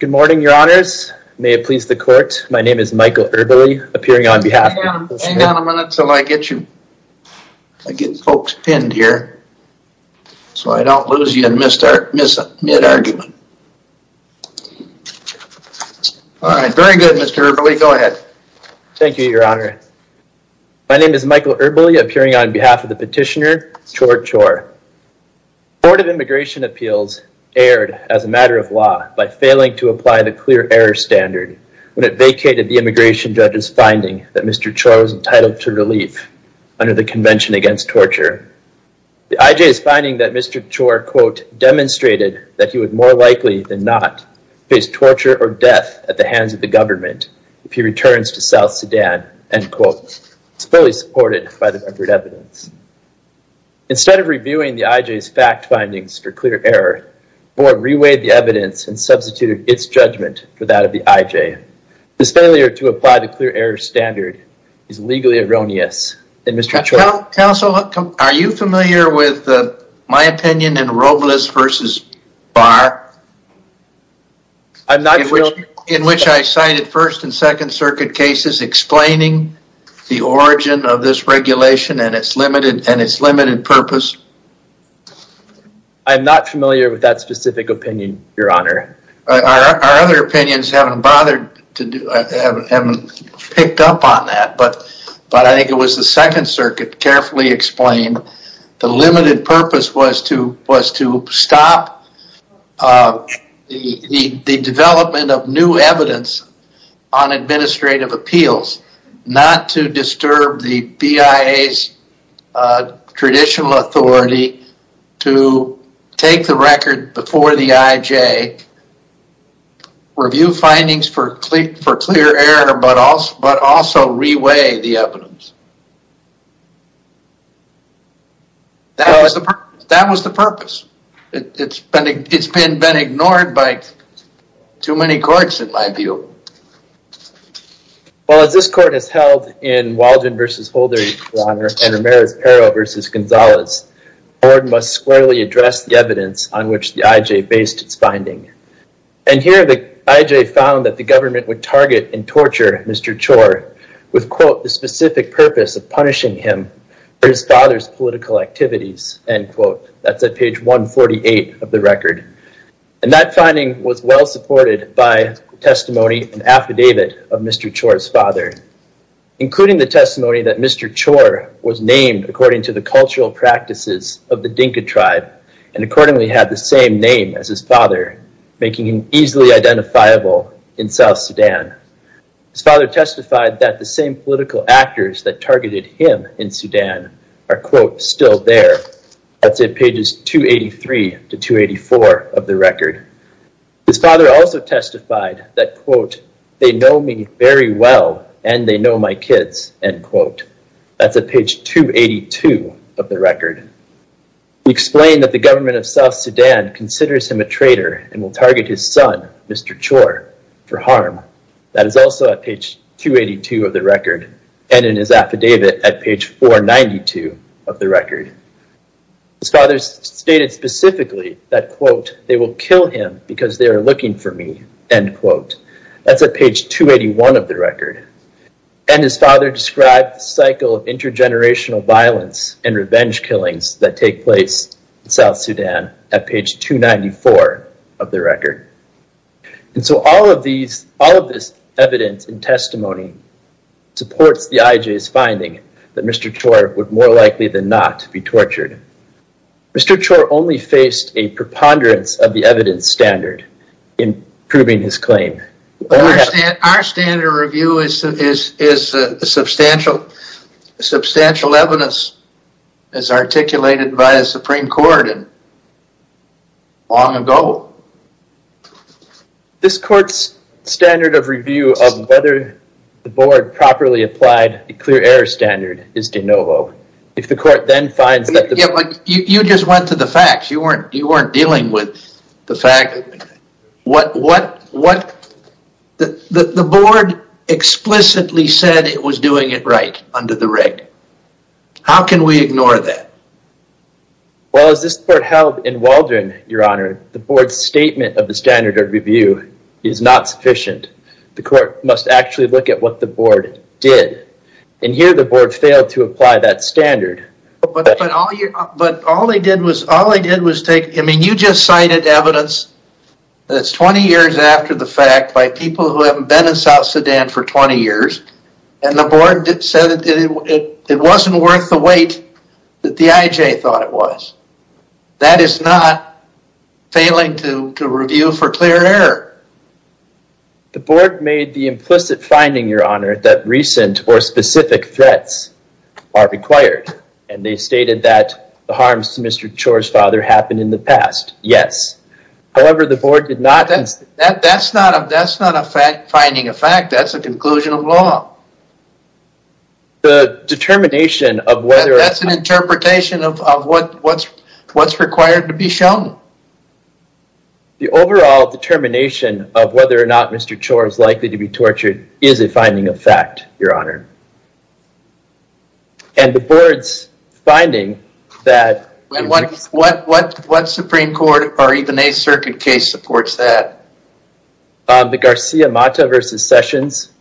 Good morning, your honors. May it please the court, my name is Michael Erbily, appearing on behalf of the... Hang on a minute till I get you... I get it. All right, very good, Mr. Erbily, go ahead. Thank you, your honor. My name is Michael Erbily, appearing on behalf of the petitioner, Chor Chor. The Board of Immigration Appeals erred as a matter of law by failing to apply the clear error standard when it vacated the immigration judge's finding that Mr. Chor was entitled to relief under the Convention Against Torture. The I.J.'s finding that Mr. Chor, quote, demonstrated that he would more likely than not face torture or death at the hands of the government if he returns to South Sudan, end quote. It's fully supported by the record evidence. Instead of reviewing the I.J.'s fact findings for clear error, the board reweighed the evidence and substituted its judgment for that of the I.J. This failure to apply the clear error standard is legally erroneous. And Mr. Chor... Counsel, are you familiar with my opinion in Robles v. Barr? I'm not sure... In which I cited First and Second Circuit cases explaining the origin of this regulation and its limited purpose? I'm not familiar with that specific opinion, Your Honor. Our other opinions haven't bothered to do... haven't picked up on that, but I think it was the Second Circuit carefully explained the limited purpose was to stop the development of new evidence on administrative appeals, not to disturb the BIA's traditional authority to take the record before the I.J., review findings for clear error, but also reweigh the evidence. That was the purpose. It's been ignored by too many courts, in my view. Well, as this court has held in Waldron v. Holder, Your Honor, and Ramirez-Pero v. Gonzalez, the court must squarely address the evidence on which the I.J. based its finding. And here the I.J. found that the government would target and torture Mr. Chor with, quote, the specific purpose of punishing him for his father's political activities, end quote. That's at page 148 of the record. And that finding was well supported by testimony and affidavit of Mr. Chor's father, including the testimony that Mr. Chor was named according to the cultural practices of the Dinka tribe and accordingly had the same name as his father, making him easily identifiable in South Sudan. His father testified that the same political actors that targeted him in Sudan are, quote, still there. That's at pages 283 to 284 of the record. His father also testified that, quote, they know me very well and they know my kids, end quote. That's at page 282 of the record. He explained that the government of South Sudan considers him a traitor and will target his son, Mr. Chor, for harm. That is also at page 282 of the record and in his affidavit at page 492 of the record. His father stated specifically that, quote, they will kill him because they are looking for me, end quote. That's at page 281 of the record. And his father described the cycle of intergenerational violence and revenge killings that take place in South Sudan at page 294 of the record. And so all of these, all of this evidence and testimony supports the IJ's finding that Mr. Chor would more likely than not be tortured. Mr. Chor only faced a preponderance of the evidence standard in proving his claim. Our standard of review is substantial. Substantial evidence is articulated by the Supreme Court long ago. This court's standard of review of whether the board properly applied the clear error standard is de novo. If the court then finds that... Yeah, but you just went to the facts. You the board explicitly said it was doing it right under the rig. How can we ignore that? Well, as this court held in Waldron, your honor, the board's statement of the standard of review is not sufficient. The court must actually look at what the board did. And here the board failed to apply that standard. But all they did was, all they did was take, I mean, you just cited evidence that's 20 years after the fact by people who haven't been in South Sudan for 20 years. And the board said it wasn't worth the wait that the IJ thought it was. That is not failing to review for clear error. The board made the implicit finding, your honor, that recent or specific threats are required. And they stated that the harms to Mr. Chor's father happened in the past. Yes. However, the board did not... That's not a finding of fact. That's a conclusion of law. The determination of whether... That's an interpretation of what's required to be shown. The overall determination of whether or not Mr. Chor is likely to be tortured is a finding of fact, your honor. And the board's finding that... What Supreme Court or even a circuit case supports that? The Garcia-Mata versus Sessions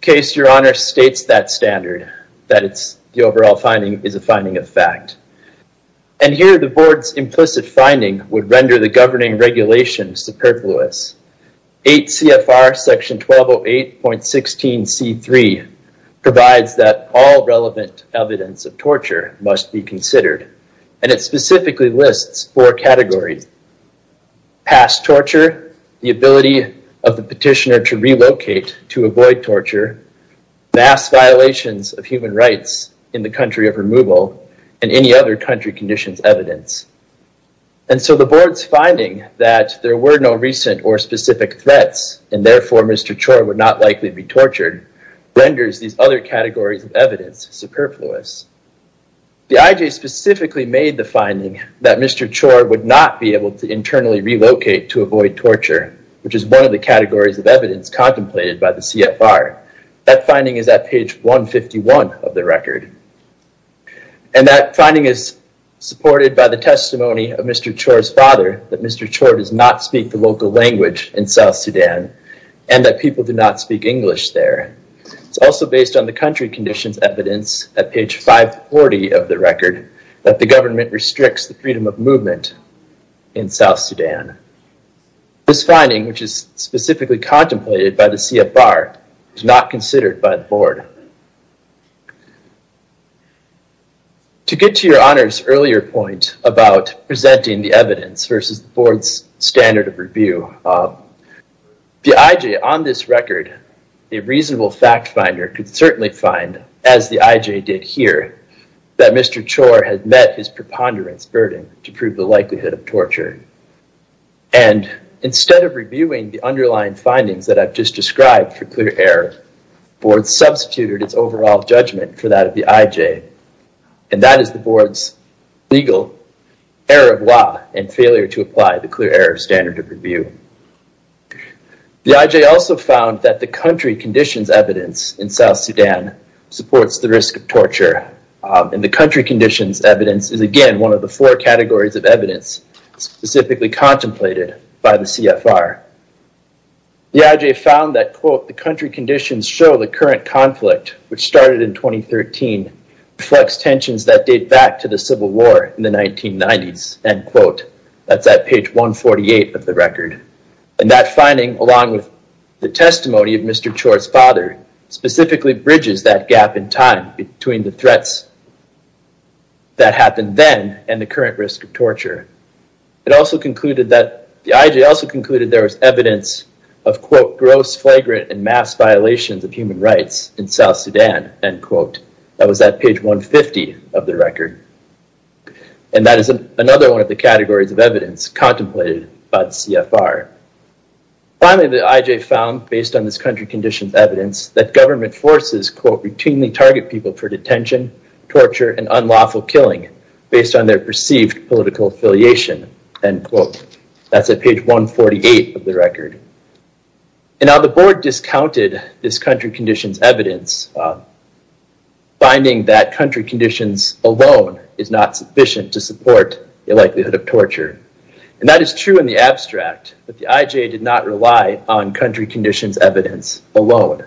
case, your honor, states that standard, that it's the overall finding is a finding of fact. And here the board's implicit finding would render the governing regulation superfluous. 8 CFR section 1208.16C3 provides that all relevant evidence of torture must be considered. And it specifically lists four categories. Past torture, the ability of the petitioner to relocate to avoid torture, mass violations of human rights in the country of And so the board's finding that there were no recent or specific threats and therefore Mr. Chor would not likely be tortured renders these other categories of evidence superfluous. The IJ specifically made the finding that Mr. Chor would not be able to internally relocate to avoid torture, which is one of the categories of evidence contemplated by the CFR. That finding is at page 151 of the record. And that finding is supported by the testimony of Mr. Chor's father, that Mr. Chor does not speak the local language in South Sudan, and that people do not speak English there. It's also based on the country conditions evidence at page 540 of the record, that the government restricts the freedom of movement in South Sudan. This finding, which is specifically contemplated by the CFR, is not considered by the board. To get to your honor's earlier point about presenting the evidence versus the board's standard of review, the IJ on this record, a reasonable fact finder could certainly find, as the IJ did here, that Mr. Chor had met his preponderance burden to prove the likelihood of underlying findings that I've just described for clear error. The board substituted its overall judgment for that of the IJ. And that is the board's legal error of law and failure to apply the clear error standard of review. The IJ also found that the country conditions evidence in South Sudan supports the risk of torture. And the country conditions evidence is, again, one of the four categories of evidence specifically contemplated by the CFR. The IJ found that, quote, the country conditions show the current conflict, which started in 2013, reflects tensions that date back to the civil war in the 1990s, end quote. That's at page 148 of the record. And that finding, along with the testimony of Mr. Chor's father, specifically bridges that gap in time between the threats that happened then and the current risk of torture. It also concluded that, the IJ also concluded there was evidence of, quote, gross, flagrant, and mass violations of human rights in South Sudan, end quote. That was at page 150 of the record. And that is another one of the categories of evidence contemplated by the CFR. Finally, the IJ found, based on this country conditions evidence, that government forces, quote, routinely target people for detention, torture, and unlawful killing, based on their perceived political affiliation, end quote. That's at page 148 of the record. And now the board discounted this country conditions evidence, finding that country conditions alone is not sufficient to support the likelihood of torture. And that is true in the abstract, but the IJ did not rely on country conditions evidence alone.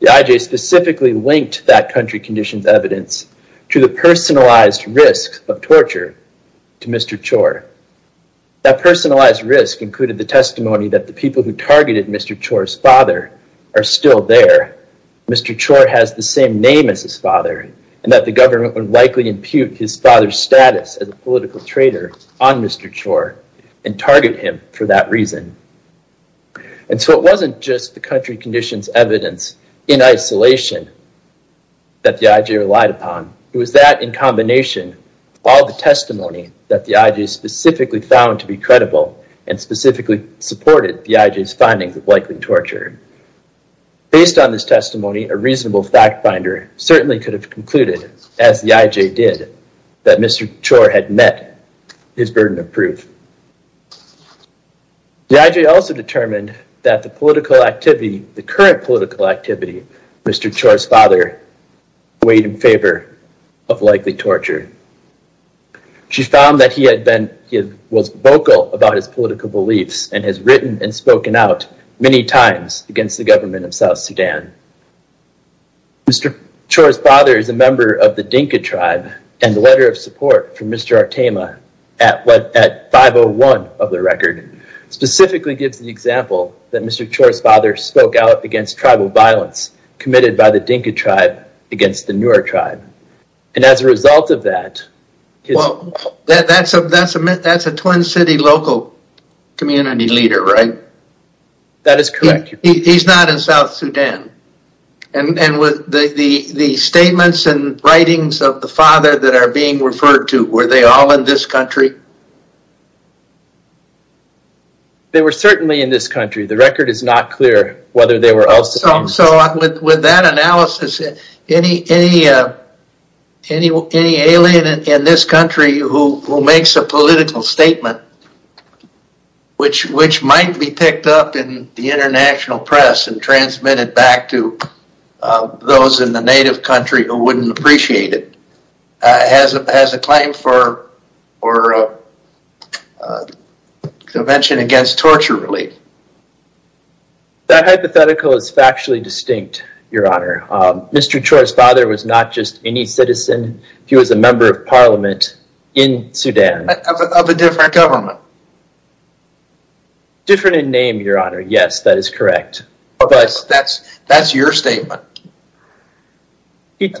The IJ specifically linked that country conditions evidence to the personalized risk of torture to Mr. Chor. That personalized risk included the testimony that the people who targeted Mr. Chor's father are still there. Mr. Chor has the same name as his father, and that the government would likely impute his father's status as a political traitor on Mr. Chor, and target him for that reason. And so it wasn't just the country conditions evidence in isolation that the IJ relied upon. It was that in combination, all the testimony that the IJ specifically found to be credible, and specifically supported the IJ's findings of likely torture. Based on this testimony, a reasonable fact finder certainly could have concluded, as the IJ did, that Mr. Chor had met his burden of proof. The IJ also determined that the political activity, the current political activity, Mr. Chor's father weighed in favor of likely torture. She found that he was vocal about his political beliefs, and has written and spoken out many times against the government of South Sudan. Mr. Chor's father is a member of the Dinka tribe, and the letter of support from Mr. Artema at 501 of the record, specifically gives the example that Mr. Chor's father spoke out against tribal violence committed by the Dinka tribe against the Nuer tribe. And as a result of that... Well, that's a twin city local community leader, right? That is correct. He's not in South Sudan. And with the statements and writings of the father that are being referred to, were they all in this country? They were certainly in this country. The record is not clear whether they were also... So with that analysis, any alien in this country who makes a political statement, which might be picked up in the international press and transmitted back to those in the native country who wouldn't appreciate it, has a claim for a convention against torture relief. That hypothetical is factually distinct, Your Honor. Mr. Chor's father was not just any citizen. He was a member of parliament in Sudan. Of a different government. Different in name, Your Honor. Yes, that is correct. That's your statement. I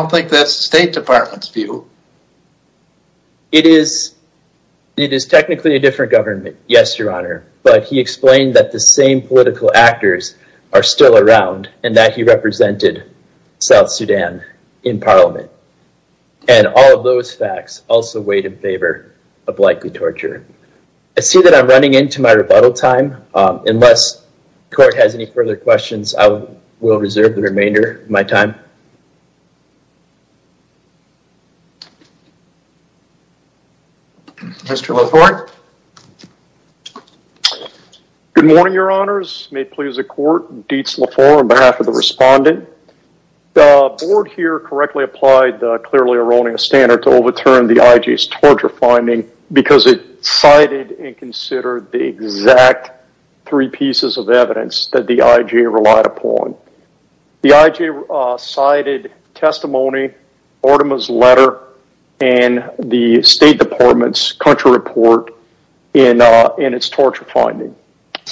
don't think that's the State Department's view. It is technically a different government. Yes, Your Honor. But he explained that the same political actors are still around, and that he represented South Sudan in parliament. And all of those facts also weighed in favor of likely torture. I see that I'm running into my rebuttal time. Unless the court has any further questions, I will reserve the remainder of my time. Mr. Laforte. Good morning, Your Honors. May it please the court, Dietz Laforte on behalf of the respondent. The board here correctly applied the clearly erroneous standard to overturn the IJ's torture finding because it cited and considered the exact three pieces of evidence that the IJ relied upon. The IJ cited testimony, Ortima's letter, and the State Department's country report in its torture finding.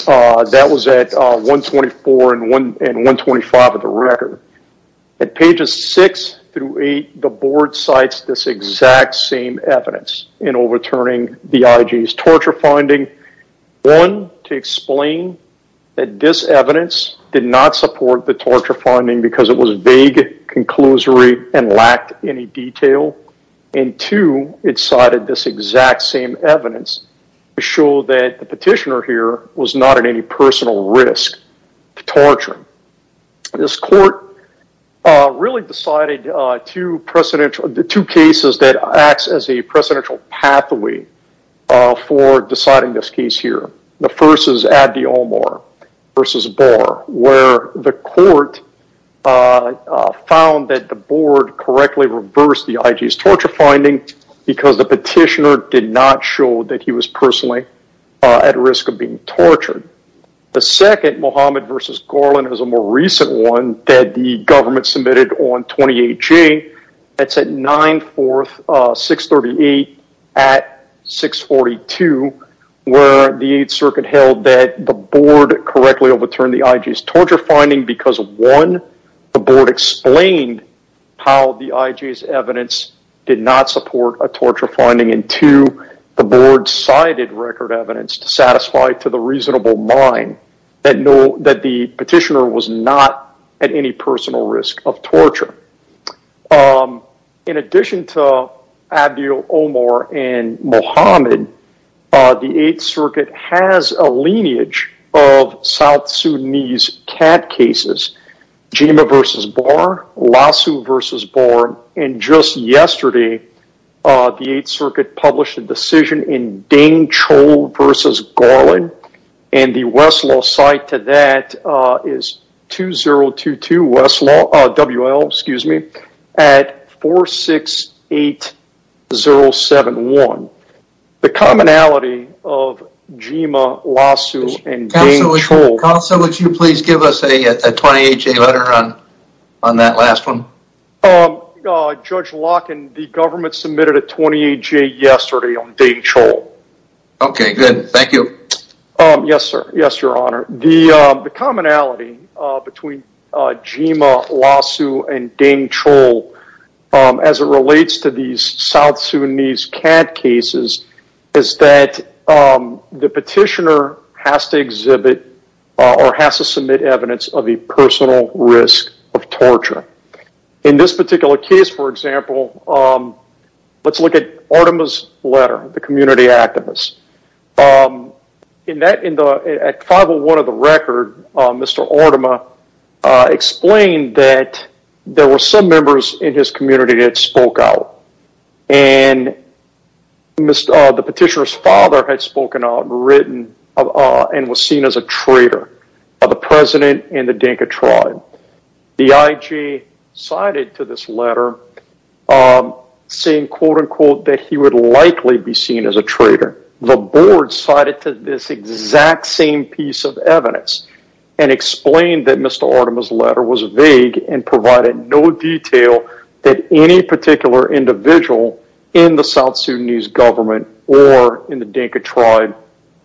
That was at 124 and 125 of the record. At pages 6 through 8, the board cites this exact same evidence in overturning the IJ's torture finding. One, to explain that this evidence did not support the torture finding because it was vague, conclusory, and lacked any detail. And two, it cited this exact same evidence to show that the petitioner here was not at any personal risk to torture. This court really decided two cases that act as a presidential pathway for deciding this case here. The first is Abdi Omar v. Barr, where the court found that the board correctly reversed the IJ's torture finding because the petitioner did not show that he was personally at risk of being tortured. The second, Mohammed v. Gorlin, is a more recent one that the government submitted on 28J. That's at 9-4-638-642, where the 8th Circuit held that the board correctly overturned the IJ's torture finding because, one, the board explained how the IJ's evidence did not support a torture finding, and two, the board cited record evidence to satisfy to the reasonable mind that the In addition to Abdi Omar and Mohammed, the 8th Circuit has a lineage of South Sudanese CAD cases, Jima v. Barr, Lassu v. Barr, and just yesterday, the 8th Circuit published a decision in Deng-Chol v. Gorlin, and the Westlaw side to that is WL-2022 at 4-6-8-0-7-1. The commonality of Jima, Lassu, and Deng-Chol... Counselor, would you please give us a 28J letter on that last one? Judge Locken, the government submitted a 28J yesterday on Deng-Chol. Okay, good. Thank you. Yes, sir. Yes, your honor. The commonality between Jima, Lassu, and Deng-Chol as it relates to these South Sudanese CAD cases is that the petitioner has to exhibit or has to submit evidence of a personal risk of torture. In this particular case, for example, let's look at Artima's letter, the community activist. At 5-0-1 of the record, Mr. Artima explained that there were some members in his community that spoke out, and the petitioner's written and was seen as a traitor of the president and the Deng-Chol tribe. The IG cited to this letter saying, quote-unquote, that he would likely be seen as a traitor. The board cited to this exact same piece of evidence and explained that Mr. Artima's letter was vague and provided no detail that any particular individual in the South Sudanese government or in the Deng-Chol tribe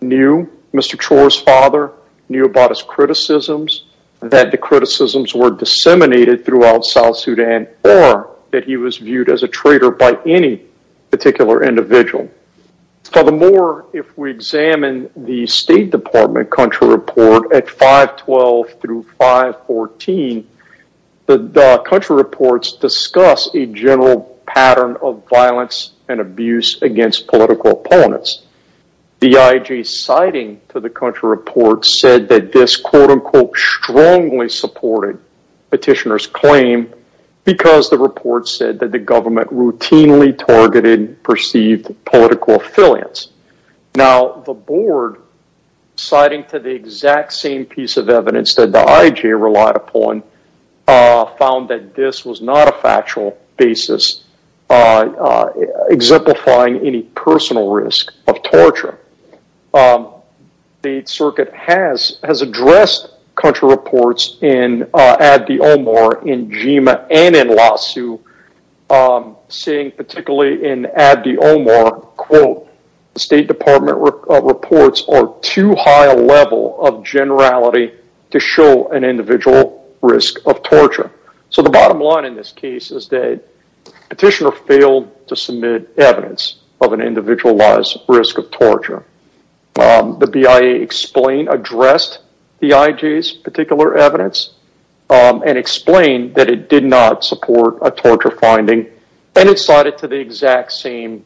knew Mr. Chol's father, knew about his criticisms, that the criticisms were disseminated throughout South Sudan, or that he was viewed as a traitor by any particular individual. Furthermore, if we examine the State Department country report at 5-12 through 5-14, the country reports discuss a general pattern of violence and abuse against political opponents. The IG citing to the country report said that this, quote-unquote, strongly supported petitioner's claim because the report said that the government routinely targeted perceived political affiliates. Now, the board citing to the exact same piece of evidence that the IG relied upon found that this was not a factual basis exemplifying any personal risk of torture. The circuit has addressed country reports in Abdi Omar, in Jima, and in Lhasu, saying particularly in Abdi Omar, quote, the State Department reports are too high a level of generality to show an individual risk of torture. So the bottom line in this case is that petitioner failed to submit evidence of an individualized risk of torture. The BIA explained, addressed the IG's particular evidence and explained that it did not support a torture finding and it cited to the exact same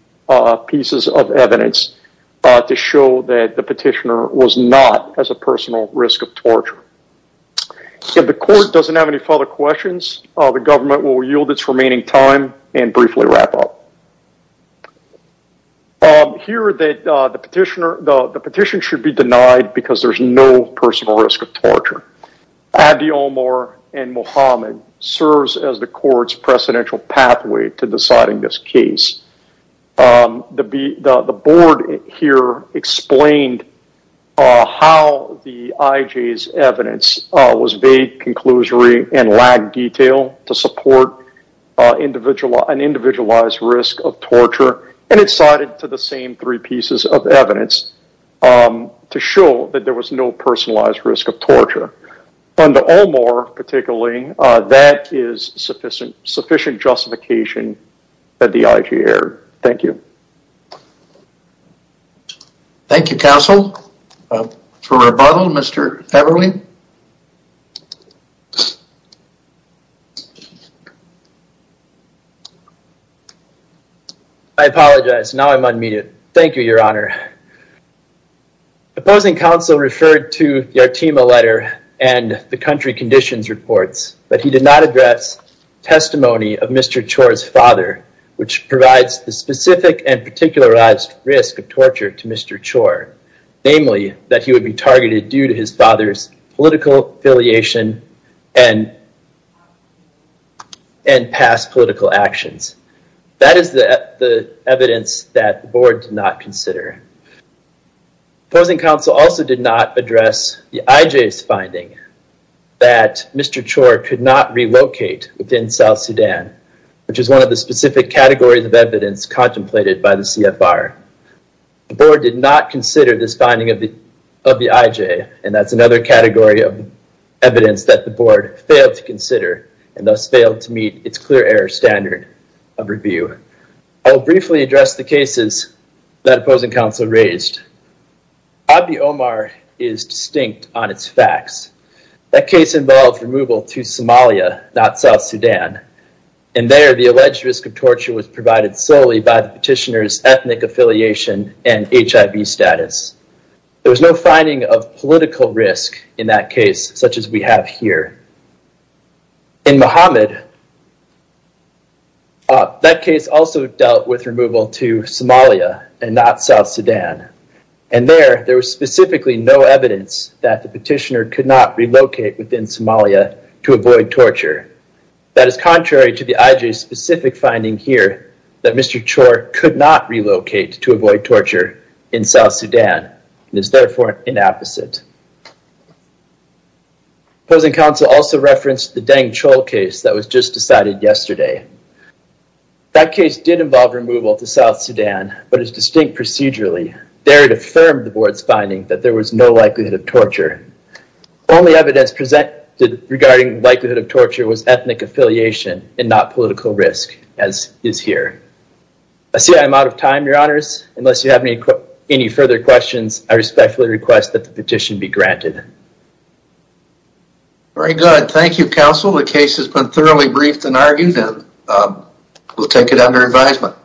pieces of evidence to show that the petitioner was not as a personal risk of torture. If the court doesn't have any further questions, the government will yield its remaining time and briefly wrap up. Here that the petitioner, the petition should be denied because there's no personal risk of torture. Abdi Omar and Mohammed serves as the court's precedential pathway to deciding this case. The board here explained how the IG's evidence was vague, conclusory, and lack detail to support an individualized risk of torture and it cited to the same three pieces of evidence to show that there was no personalized risk of torture. Under Omar, particularly, that is sufficient justification that the IG erred. Thank you. Thank you, counsel. For rebuttal, Mr. Feverling. I apologize. Now I'm un-muted. Thank you, your honor. Opposing counsel referred to the Artema letter and the country conditions reports, but he did not address testimony of Mr. Chor's father, which provides the specific and particularized risk of torture to Mr. Chor. Namely, that he would be targeted due to his father's political affiliation and past political actions. That is the evidence that the board did not relocate within South Sudan, which is one of the specific categories of evidence contemplated by the CFR. The board did not consider this finding of the IG, and that's another category of evidence that the board failed to consider and thus failed to meet its clear error standard of review. I will briefly address the cases that opposing counsel raised. Abdi Omar is distinct on its facts. That case involved removal to Somalia, not South Sudan. There, the alleged risk of torture was provided solely by the petitioner's ethnic affiliation and HIV status. There was no finding of political risk in that case, such as we have here. In Mohammed, that case also dealt with removal to Somalia and not South Sudan. There, there was specifically no evidence that petitioner could not relocate within Somalia to avoid torture. That is contrary to the IG's specific finding here that Mr. Chor could not relocate to avoid torture in South Sudan, and is therefore an opposite. Opposing counsel also referenced the Dang Chol case that was just decided yesterday. That case did involve removal to South Sudan, but is distinct procedurally. There, it affirmed the board's finding that there was no likelihood of torture. Only evidence presented regarding likelihood of torture was ethnic affiliation and not political risk, as is here. I see I'm out of time, your honors. Unless you have any further questions, I respectfully request that the petition be granted. Very good. Thank you, counsel. The case has been thoroughly briefed and argued, and we'll take it under advisement.